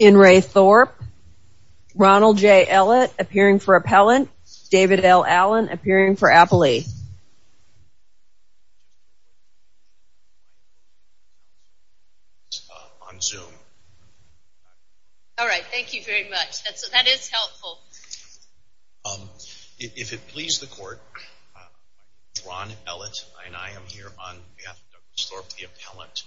In re. Thorpe, Ronald J. Ellett appearing for appellant, David L. Allen appearing for appellee. If it pleases the court, I am Ron Ellett and I am here on behalf of Dr. Thorpe, the appellant.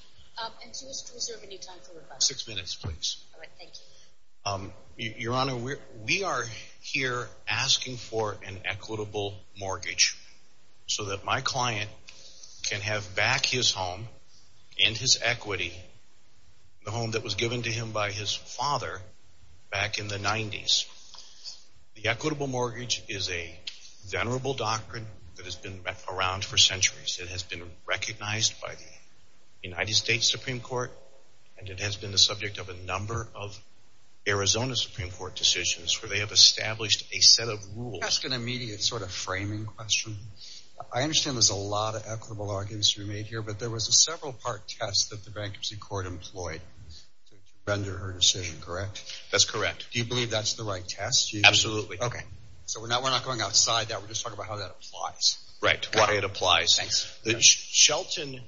Your Honor, we are here asking for an equitable mortgage so that my client can have back his home and his equity, the home that was given to him by his father back in the 90s. The equitable mortgage is a venerable doctrine that has been around for centuries. It has been recognized by the United States Supreme Court and it has been the subject of a number of Arizona Supreme Court decisions where they have established a set of rules. Can I ask an immediate sort of framing question? I understand there's a lot of equitable arguments you made here, but there was a several part test that the bankruptcy court employed to render her decision, correct? That's correct. Do you believe that's the right test? Absolutely. Okay. So we're not going outside that. We're just talking about how that applies. Right. Why it applies. Thanks. Shelton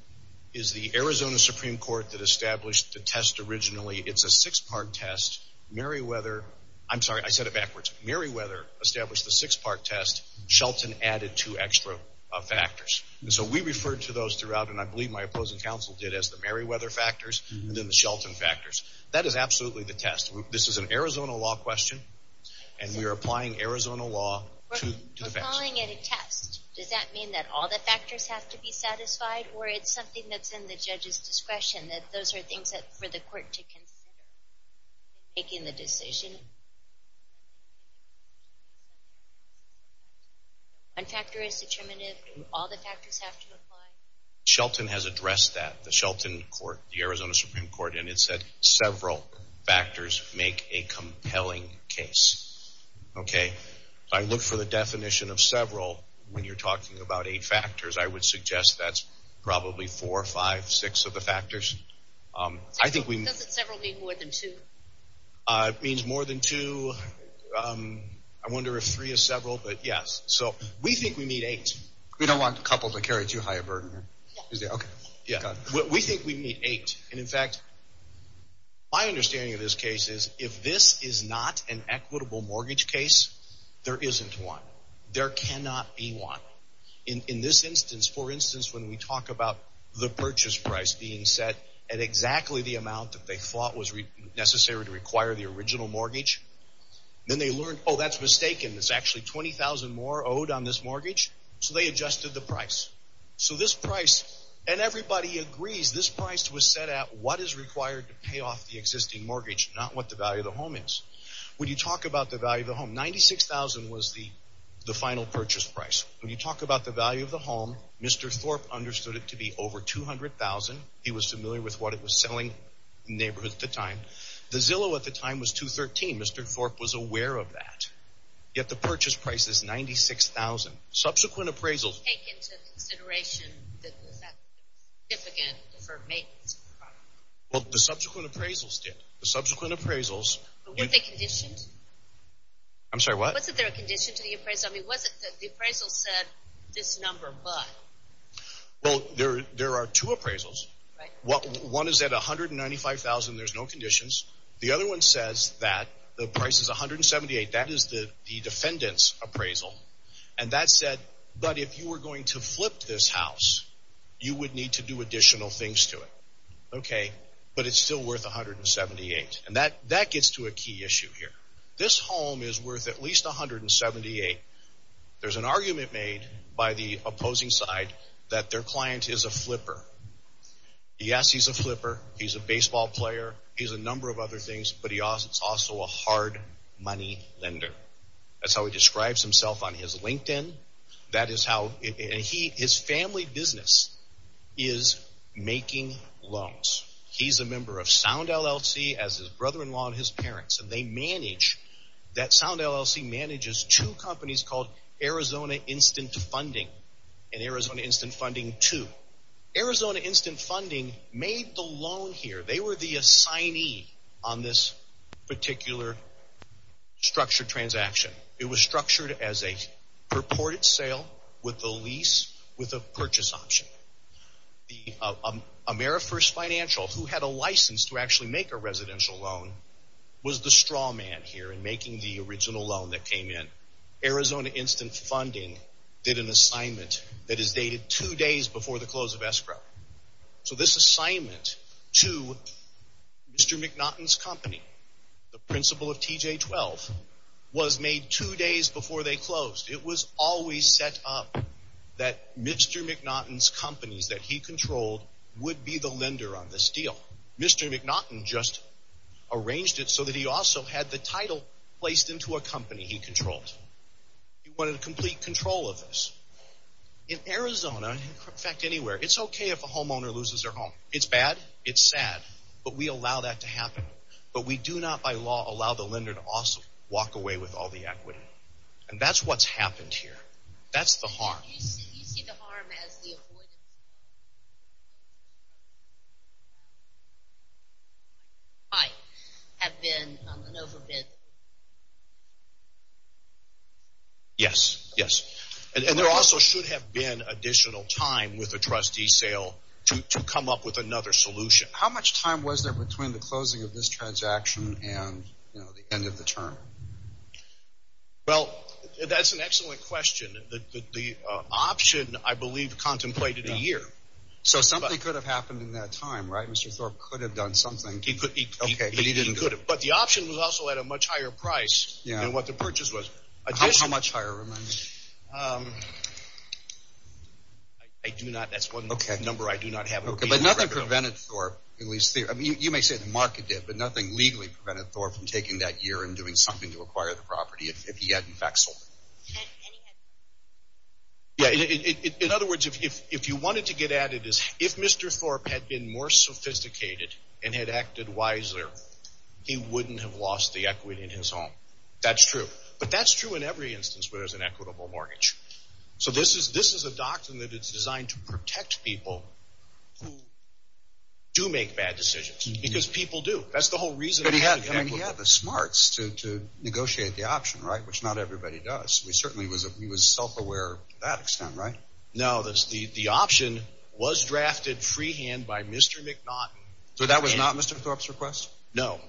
is the Arizona Supreme Court that established the test originally. It's a six part test. Meriwether, I'm sorry, I said it backwards. Meriwether established the six part test. Shelton added two extra factors. So we referred to those throughout and I believe my opposing counsel did as the Meriwether factors and then the Shelton factors. That is absolutely the test. This is an Arizona law question and we are applying Arizona law to the facts. You're calling it a test. Does that mean that all the factors have to be satisfied or it's something that's in the judge's discretion, that those are things for the court to consider in making the decision? One factor is determinative. Do all the factors have to apply? Shelton has addressed that. The Shelton court, the Arizona Supreme Court, and it said several factors make a compelling case. Okay. I look for the definition of several when you're talking about eight factors. I would suggest that's probably four, five, six of the factors. Does several mean more than two? It means more than two. I wonder if three is several, but yes. So we think we need eight. We don't want a couple to carry too high a burden. We think we need eight. And in fact, my understanding of this case is if this is not an equitable mortgage case, there isn't one. There cannot be one. In this instance, for instance, when we talk about the purchase price being set at exactly the amount that they thought was necessary to require the original mortgage, then they learned, oh, that's mistaken. There's actually $20,000 more owed on this mortgage, so they adjusted the price. So this price, and everybody agrees, this price was set at what is required to pay off the existing mortgage, not what the value of the home is. When you talk about the value of the home, $96,000 was the final purchase price. When you talk about the value of the home, Mr. Thorpe understood it to be over $200,000. He was familiar with what it was selling in the neighborhood at the time. The Zillow at the time was $213,000. Mr. Thorpe was aware of that. Yet the purchase price is $96,000. Subsequent appraisals… Take into consideration that that's significant for maintenance. Well, the subsequent appraisals did. The subsequent appraisals… Were they conditioned? I'm sorry, what? Wasn't there a condition to the appraisal? I mean, was it that the appraisal said this number, but… Well, there are two appraisals. Right. One is at $195,000 and there's no conditions. The other one says that the price is $178,000. That is the defendant's appraisal. And that said, but if you were going to flip this house, you would need to do additional things to it. But it's still worth $178,000. And that gets to a key issue here. This home is worth at least $178,000. There's an argument made by the opposing side that their client is a flipper. Yes, he's a flipper. He's a baseball player. He's a number of other things. But he's also a hard money lender. That's how he describes himself on his LinkedIn. That is how… And his family business is making loans. He's a member of Sound LLC, as is his brother-in-law and his parents. And they manage… That Sound LLC manages two companies called Arizona Instant Funding and Arizona Instant Funding II. So Arizona Instant Funding made the loan here. They were the assignee on this particular structured transaction. It was structured as a purported sale with a lease with a purchase option. The AmeriFirst Financial, who had a license to actually make a residential loan, was the straw man here in making the original loan that came in. Arizona Instant Funding did an assignment that is dated two days before the close of escrow. So this assignment to Mr. McNaughton's company, the principal of TJ-12, was made two days before they closed. It was always set up that Mr. McNaughton's companies that he controlled would be the lender on this deal. Mr. McNaughton just arranged it so that he also had the title placed into a company he controlled. He wanted complete control of this. In Arizona, in fact anywhere, it's okay if a homeowner loses their home. It's bad. It's sad. But we allow that to happen. But we do not, by law, allow the lender to also walk away with all the equity. And that's what's happened here. That's the harm. Do you see the harm as the avoidance? There might have been an overbid. Yes, yes. And there also should have been additional time with the trustee sale to come up with another solution. How much time was there between the closing of this transaction and the end of the term? Well, that's an excellent question. The option, I believe, contemplated a year. So something could have happened in that time, right? Mr. Thorpe could have done something. But the option was also at a much higher price than what the purchase was. How much higher? I do not, that's one number I do not have. But nothing prevented Thorpe, at least, you may say the market did, but nothing legally prevented Thorpe from taking that year and doing something to acquire the property if he hadn't back sold it. In other words, if you wanted to get at it, if Mr. Thorpe had been more sophisticated and had acted wiser, he wouldn't have lost the equity in his home. That's true. But that's true in every instance where there's an equitable mortgage. So this is a doctrine that is designed to protect people who do make bad decisions. Because people do. That's the whole reason. But he had the smarts to negotiate the option, right? Which not everybody does. He certainly was self-aware to that extent, right? No, the option was drafted freehand by Mr. McNaughton. So that was not Mr. Thorpe's request? No.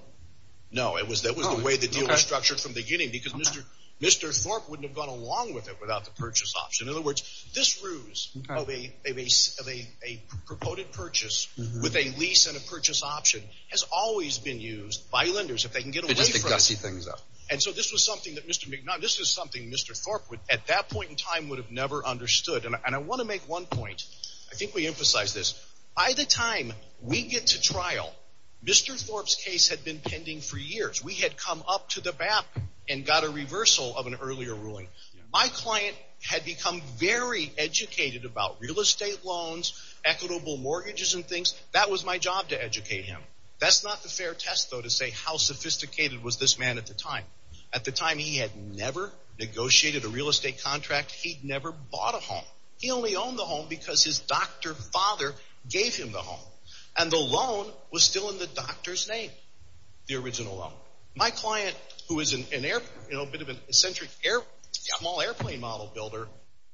No, that was the way the deal was structured from the beginning. Because Mr. Thorpe wouldn't have gone along with it without the purchase option. In other words, this ruse of a purported purchase with a lease and a purchase option has always been used by lenders if they can get away from it. And so this was something that Mr. McNaughton, this was something Mr. Thorpe at that point in time would have never understood. And I want to make one point. I think we emphasized this. By the time we get to trial, Mr. Thorpe's case had been pending for years. We had come up to the BAP and got a reversal of an earlier ruling. My client had become very educated about real estate loans, equitable mortgages and things. That was my job to educate him. That's not the fair test, though, to say how sophisticated was this man at the time. At the time, he had never negotiated a real estate contract. He'd never bought a home. He only owned the home because his doctor father gave him the home. And the loan was still in the doctor's name, the original loan. My client, who is a bit of an eccentric airplane model builder,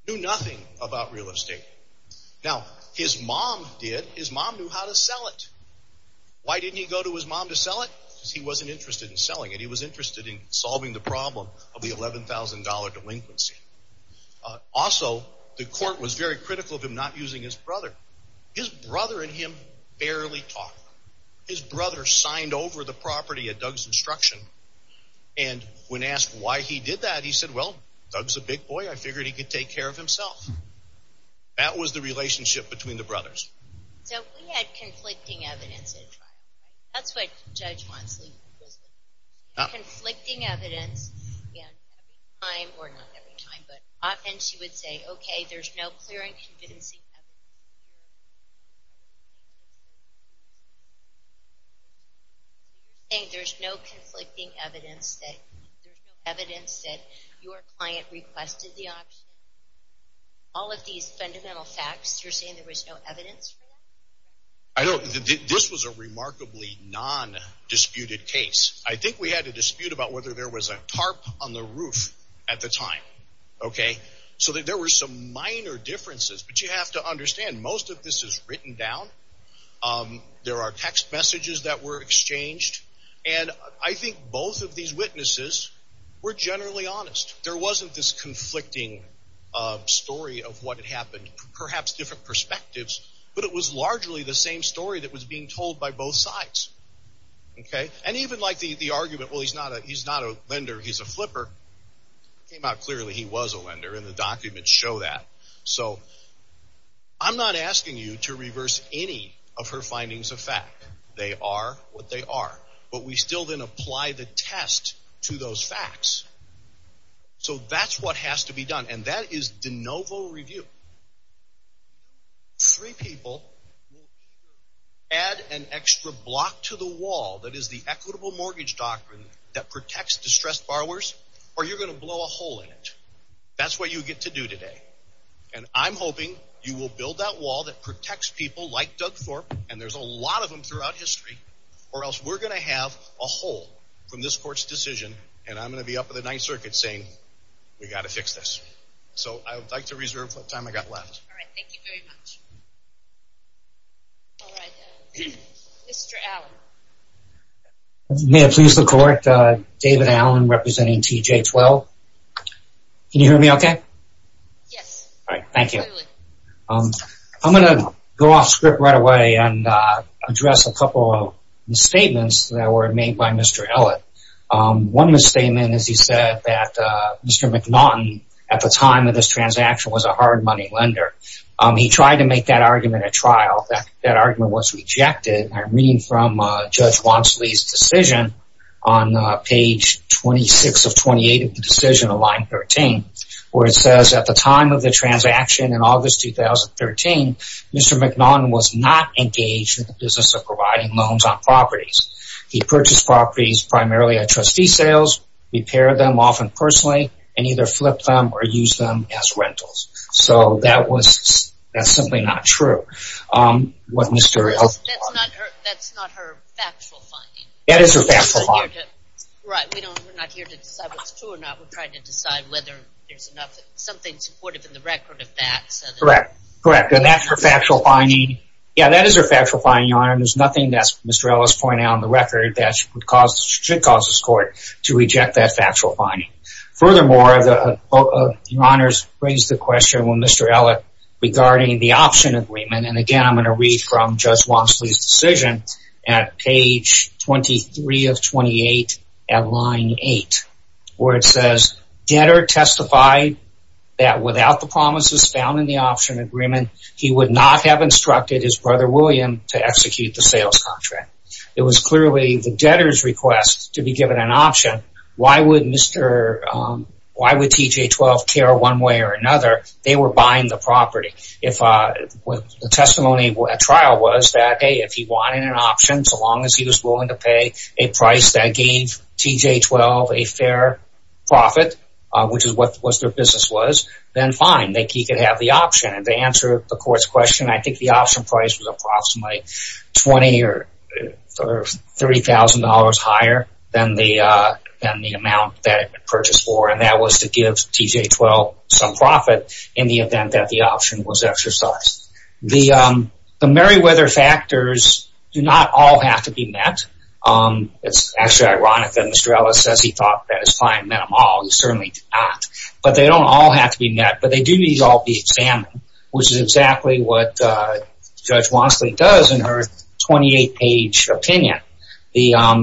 knew nothing about real estate. Now, his mom did. His mom knew how to sell it. Why didn't he go to his mom to sell it? Because he wasn't interested in selling it. He was interested in solving the problem of the $11,000 delinquency. Also, the court was very critical of him not using his brother. His brother and him barely talked. His brother signed over the property at Doug's instruction. And when asked why he did that, he said, Well, Doug's a big boy. I figured he could take care of himself. That was the relationship between the brothers. So we had conflicting evidence at trial. That's what Judge Wansley was looking for. Conflicting evidence. And every time, or not every time, but often she would say, Okay, there's no clear and convincing evidence. You're saying there's no conflicting evidence. There's no evidence that your client requested the option. All of these fundamental facts, you're saying there was no evidence for that? This was a remarkably non-disputed case. I think we had a dispute about whether there was a tarp on the roof at the time. So there were some minor differences. But you have to understand, most of this is written down. There are text messages that were exchanged. And I think both of these witnesses were generally honest. There wasn't this conflicting story of what had happened. Perhaps different perspectives. But it was largely the same story that was being told by both sides. And even like the argument, well, he's not a lender, he's a flipper. It came out clearly he was a lender, and the documents show that. So I'm not asking you to reverse any of her findings of fact. They are what they are. But we still then apply the test to those facts. So that's what has to be done. And that is de novo review. Three people add an extra block to the wall that is the equitable mortgage doctrine that protects distressed borrowers, or you're going to blow a hole in it. That's what you get to do today. And I'm hoping you will build that wall that protects people like Doug Thorpe, and there's a lot of them throughout history, or else we're going to have a hole from this court's decision, and I'm going to be up in the Ninth Circuit saying we've got to fix this. So I would like to reserve the time I've got left. All right, thank you very much. All right, Mr. Allen. May it please the Court, David Allen representing TJ12. Can you hear me okay? Yes. All right, thank you. I'm going to go off script right away and address a couple of misstatements that were made by Mr. Ellett. One misstatement is he said that Mr. McNaughton, at the time of this transaction, was a hard money lender. He tried to make that argument a trial. That argument was rejected. I'm reading from Judge Wansley's decision on page 26 of 28 of the decision of line 13, where it says, at the time of the transaction in August 2013, Mr. McNaughton was not engaged in the business of providing loans on properties. He purchased properties primarily at trustee sales, repaired them often personally, and either flipped them or used them as rentals. So that's simply not true. That's not her factual finding. That is her factual finding. Right. We're not here to decide what's true or not. We're trying to decide whether there's something supportive in the record of that. Correct. And that's her factual finding. Yeah, that is her factual finding, Your Honor, and there's nothing that Mr. Ellett is pointing out on the record that should cause the Court to reject that factual finding. Furthermore, Your Honor's raised the question with Mr. Ellett regarding the option agreement, and, again, I'm going to read from Judge Wansley's decision at page 23 of 28 of line 8, where it says, debtor testified that without the promises found in the option agreement, he would not have instructed his brother William to execute the sales contract. It was clearly the debtor's request to be given an option. Why would TJ-12 care one way or another? They were buying the property. The testimony at trial was that, hey, if he wanted an option, so long as he was willing to pay a price that gave TJ-12 a fair profit, which is what their business was, then fine. He could have the option. And to answer the Court's question, I think the option price was approximately $20,000 or $30,000 higher than the amount that it had been purchased for, and that was to give TJ-12 some profit in the event that the option was exercised. The Meriwether factors do not all have to be met. It's actually ironic that Mr. Ellett says he thought that his client met them all. He certainly did not. But they don't all have to be met, but they do need to all be examined, which is exactly what Judge Wansley does in her 28-page opinion.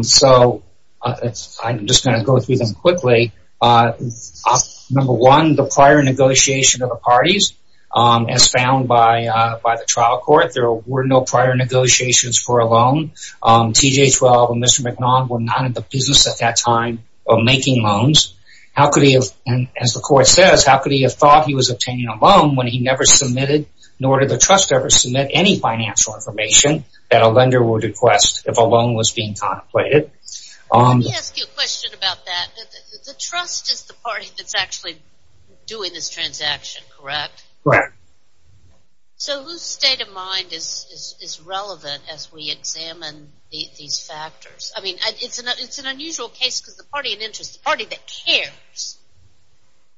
So I'm just going to go through them quickly. Number one, the prior negotiation of the parties, as found by the trial court, there were no prior negotiations for a loan. TJ-12 and Mr. McNaughton were not in the business at that time of making loans. How could he have – and as the Court says, how could he have thought he was obtaining a loan when he never submitted nor did the trust ever submit any financial information that a lender would request if a loan was being contemplated? Let me ask you a question about that. The trust is the party that's actually doing this transaction, correct? Correct. So whose state of mind is relevant as we examine these factors? I mean it's an unusual case because the party in interest, the party that cares,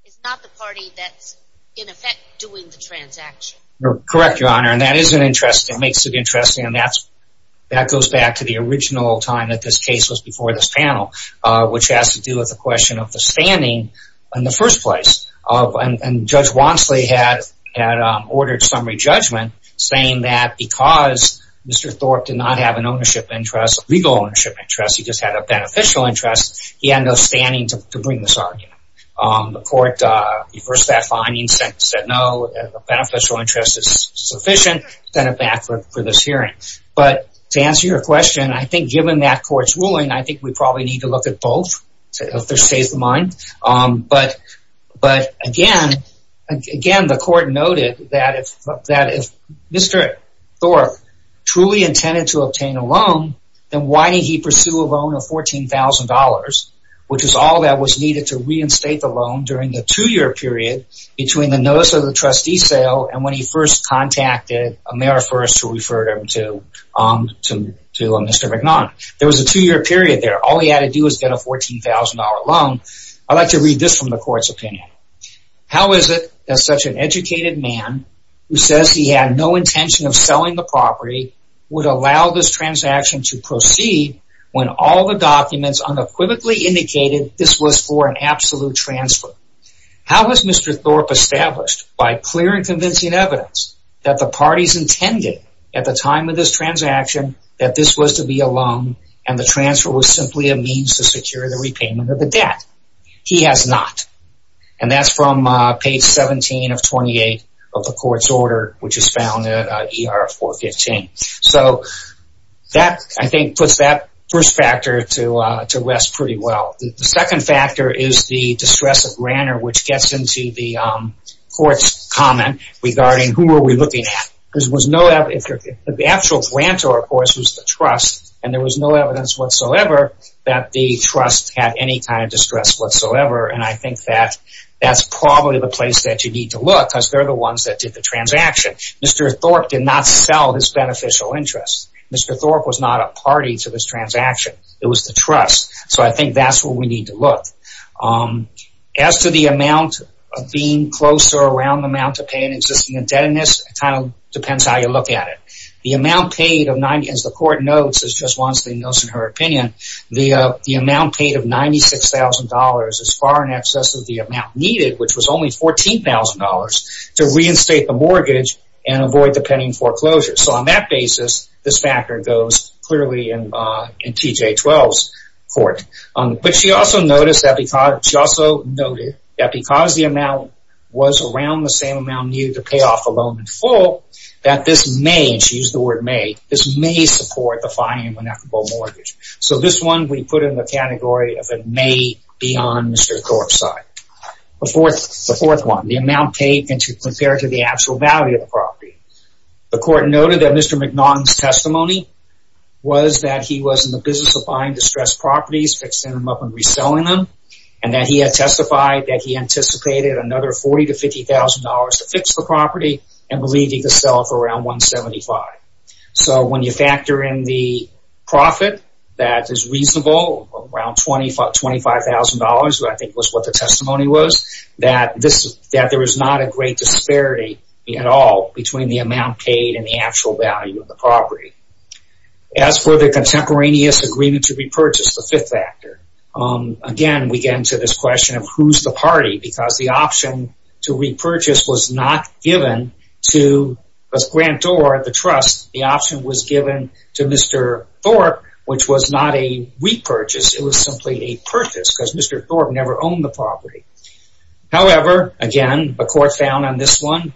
is not the party that's in effect doing the transaction. Correct, Your Honor, and that is an interest. It makes it interesting, and that goes back to the original time that this case was before this panel, which has to do with the question of the standing in the first place. And Judge Wansley had ordered summary judgment saying that because Mr. Thorpe did not have an ownership interest, a legal ownership interest, he just had a beneficial interest, he had no standing to bring this argument. The Court reversed that finding, said no, a beneficial interest is sufficient, sent it back for this hearing. But to answer your question, I think given that court's ruling, I think we probably need to look at both if there's a state of mind. But again, the Court noted that if Mr. Thorpe truly intended to obtain a loan, then why did he pursue a loan of $14,000, which is all that was needed to reinstate the loan during the two-year period between the notice of the trustee sale and when he first contacted Amerifers to refer him to Mr. McNaughton. There was a two-year period there. All he had to do was get a $14,000 loan. I'd like to read this from the Court's opinion. How is it that such an educated man who says he had no intention of selling the property would allow this transaction to proceed when all the documents unequivocally indicated this was for an absolute transfer? How was Mr. Thorpe established by clear and convincing evidence that the parties intended at the time of this transaction that this was to be a loan and the transfer was simply a means to secure the repayment of the debt? He has not. And that's from page 17 of 28 of the Court's order, which is found in ER 415. So that, I think, puts that first factor to rest pretty well. The second factor is the distress of Granter, which gets into the Court's comment regarding who are we looking at. The actual grantor, of course, was the trust, and there was no evidence whatsoever that the trust had any kind of distress whatsoever, and I think that that's probably the place that you need to look because they're the ones that did the transaction. Mr. Thorpe did not sell his beneficial interest. Mr. Thorpe was not a party to this transaction. It was the trust, so I think that's where we need to look. As to the amount of being close or around the amount to pay an existing indebtedness, it kind of depends on how you look at it. The amount paid of – as the Court notes, as Joss Wonstein notes in her opinion, the amount paid of $96,000 is far in excess of the amount needed, which was only $14,000, to reinstate the mortgage and avoid the pending foreclosure. So on that basis, this factor goes clearly in TJ-12's Court. But she also noted that because the amount was around the same amount needed to pay off a loan in full, that this may – and she used the word may – this may support the filing of an equitable mortgage. So this one we put in the category of it may be on Mr. Thorpe's side. The fourth one, the amount paid compared to the actual value of the property. The Court noted that Mr. McNaughton's testimony was that he was in the business of buying distressed properties, fixing them up and reselling them, and that he had testified that he anticipated another $40,000 to $50,000 to fix the property and believed he could sell it for around $175,000. So when you factor in the profit, that is reasonable, around $25,000, which I think was what the testimony was, that there is not a great disparity at all between the amount paid and the actual value of the property. As for the contemporaneous agreement to repurchase, the fifth factor. Again, we get into this question of who's the party because the option to repurchase was not given to Grantor, the trust. The option was given to Mr. Thorpe, which was not a repurchase. It was simply a purchase because Mr. Thorpe never owned the property. However, again, the Court found on this one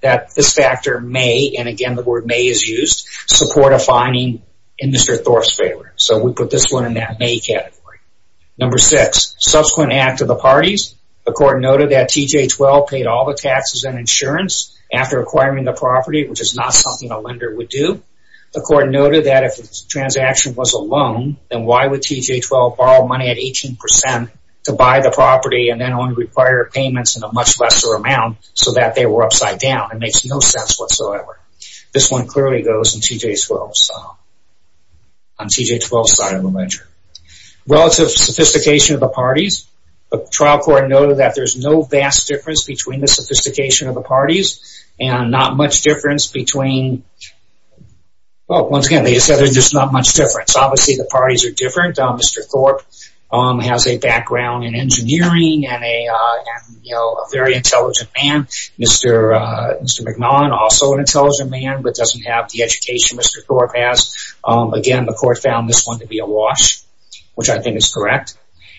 that this factor may – and again, the word may is used – support a filing in Mr. Thorpe's favor. So we put this one in that may category. Number six, subsequent act of the parties. The Court noted that TJ-12 paid all the taxes and insurance after acquiring the property, which is not something a lender would do. The Court noted that if the transaction was a loan, then why would TJ-12 borrow money at 18% to buy the property and then only require payments in a much lesser amount so that they were upside down? It makes no sense whatsoever. This one clearly goes in TJ-12's – on TJ-12's side of the ledger. Relative sophistication of the parties. The trial court noted that there's no vast difference between the sophistication of the parties and not much difference between – well, once again, they said there's not much difference. Obviously, the parties are different. Mr. Thorpe has a background in engineering and a very intelligent man. Mr. McNaughton, also an intelligent man, but doesn't have the education Mr. Thorpe has. Again, the Court found this one to be a wash, which I think is correct.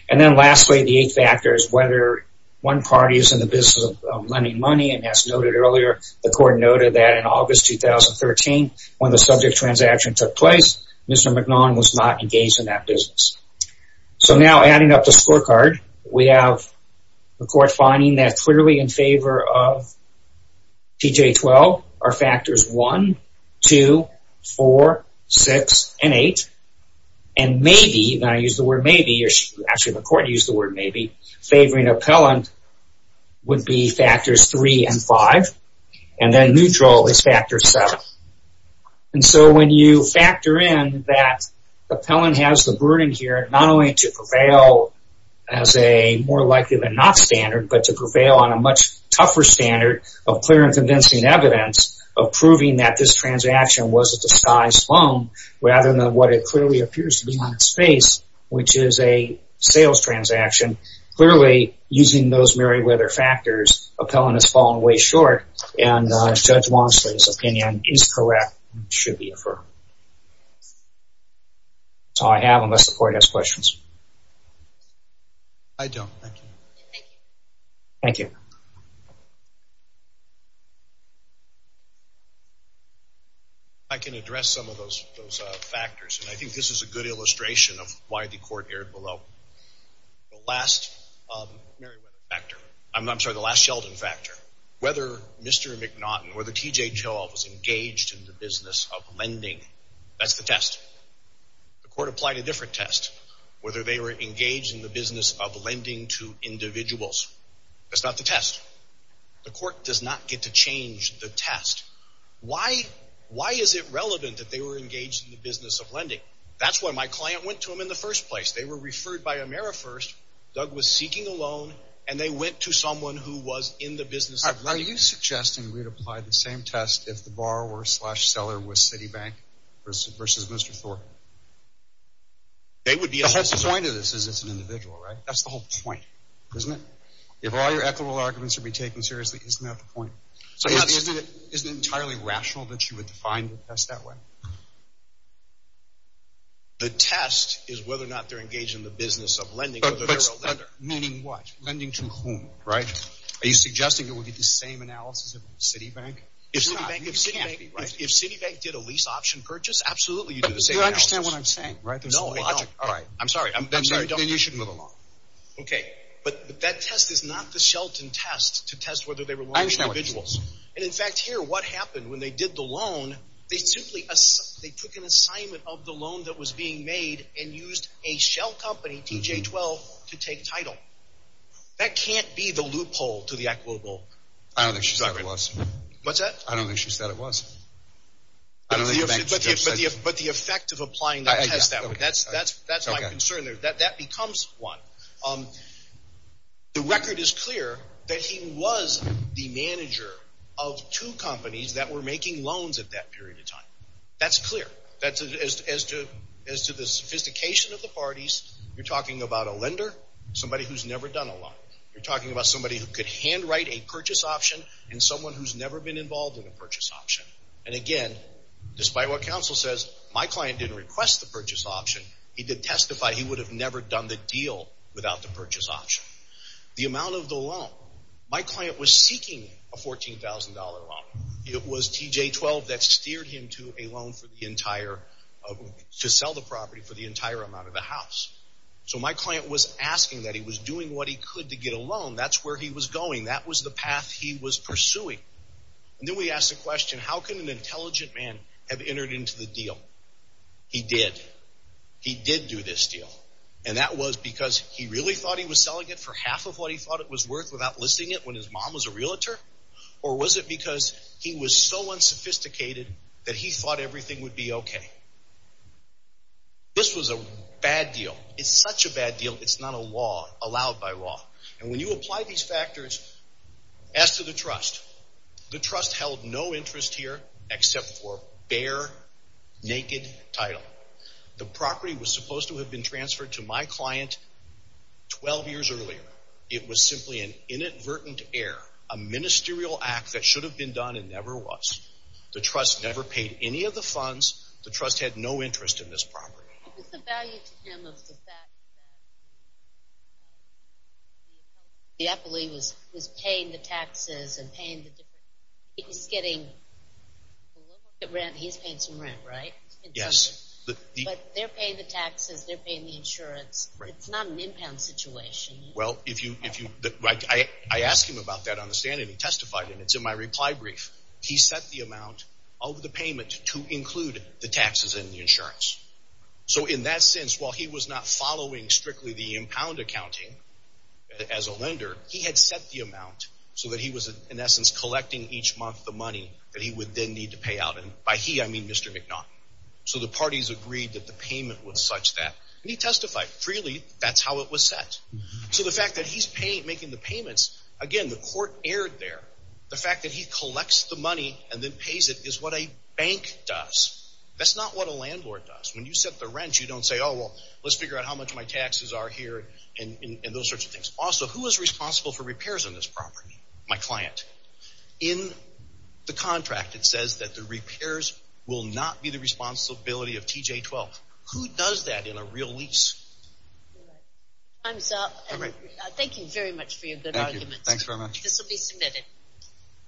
And then lastly, the eighth factor is whether one party is in the business of lending money. And as noted earlier, the Court noted that in August 2013, when the subject transaction took place, Mr. McNaughton was not engaged in that business. So now adding up the scorecard, we have the Court finding that clearly in favor of TJ-12 are factors 1, 2, 4, 6, and 8. And maybe – and I use the word maybe, or actually the Court used the word maybe – favoring appellant would be factors 3 and 5. And then neutral is factor 7. And so when you factor in that appellant has the burden here not only to prevail as a more likely-than-not standard, but to prevail on a much tougher standard of clear and convincing evidence of proving that this transaction was a disguised loan, rather than what it clearly appears to be on its face, which is a sales transaction, clearly using those Meriwether factors, appellant has fallen way short. And Judge Wamsley's opinion is correct and should be affirmed. That's all I have unless the Court has questions. I don't. Thank you. Thank you. I can address some of those factors, and I think this is a good illustration of why the Court erred below. The last Meriwether factor – I'm sorry, the last Sheldon factor. Whether Mr. McNaughton or the TJ-12 was engaged in the business of lending, that's the test. The Court applied a different test, whether they were engaged in the business of lending to individuals. That's not the test. The Court does not get to change the test. Why is it relevant that they were engaged in the business of lending? That's why my client went to him in the first place. They were referred by Amerifirst. Doug was seeking a loan, and they went to someone who was in the business of lending. Are you suggesting we'd apply the same test if the borrower-slash-seller was Citibank versus Mr. Thorpe? The whole point of this is it's an individual, right? That's the whole point, isn't it? If all your equitable arguments are being taken seriously, isn't that the point? So isn't it entirely rational that you would define the test that way? The test is whether or not they're engaged in the business of lending or whether they're a lender. Meaning what? Lending to whom, right? Are you suggesting it would be the same analysis if it was Citibank? If Citibank did a lease option purchase, absolutely you'd do the same analysis. But you understand what I'm saying, right? There's some logic. No, I don't. I'm sorry. Then you shouldn't move along. Okay, but that test is not the Shelton test to test whether they were loaned to individuals. And in fact, here, what happened when they did the loan, they took an assignment of the loan that was being made and used a shell company, TJ12, to take title. That can't be the loophole to the equitable argument. I don't think she said it was. What's that? I don't think she said it was. But the effect of applying the test, that's my concern there. That becomes one. The record is clear that he was the manager of two companies that were making loans at that period of time. That's clear. As to the sophistication of the parties, you're talking about a lender, somebody who's never done a loan. You're talking about somebody who could handwrite a purchase option and someone who's never been involved in a purchase option. And again, despite what counsel says, my client didn't request the purchase option. He did testify he would have never done the deal without the purchase option. The amount of the loan, my client was seeking a $14,000 loan. It was TJ12 that steered him to a loan to sell the property for the entire amount of the house. So my client was asking that. He was doing what he could to get a loan. That's where he was going. That was the path he was pursuing. And then we asked the question, how can an intelligent man have entered into the deal? He did. He did do this deal. And that was because he really thought he was selling it for half of what he thought it was worth without listing it when his mom was a realtor? Or was it because he was so unsophisticated that he thought everything would be okay? This was a bad deal. It's such a bad deal, it's not allowed by law. And when you apply these factors, as to the trust, the trust held no interest here except for bare, naked title. The property was supposed to have been transferred to my client 12 years earlier. It was simply an inadvertent error, a ministerial act that should have been done and never was. The trust never paid any of the funds. The trust had no interest in this property. What was the value to him of the fact that the appellee was paying the taxes and paying the difference? He's getting a little bit of rent. He's paying some rent, right? Yes. But they're paying the taxes, they're paying the insurance. It's not an impound situation. Well, I asked him about that on the stand, and he testified, and it's in my reply brief. He set the amount of the payment to include the taxes and the insurance. So in that sense, while he was not following strictly the impound accounting as a lender, he had set the amount so that he was, in essence, collecting each month the money that he would then need to pay out. And by he, I mean Mr. McNaughton. So the parties agreed that the payment was such that, and he testified freely, that's how it was set. So the fact that he's making the payments, again, the court erred there. The fact that he collects the money and then pays it is what a bank does. That's not what a landlord does. When you set the rent, you don't say, oh, well, let's figure out how much my taxes are here and those sorts of things. Also, who is responsible for repairs on this property? My client. In the contract, it says that the repairs will not be the responsibility of TJ-12. Who does that in a real lease? Time's up. All right. Thank you very much for your good arguments. Thank you. Thank you very much. This will be submitted.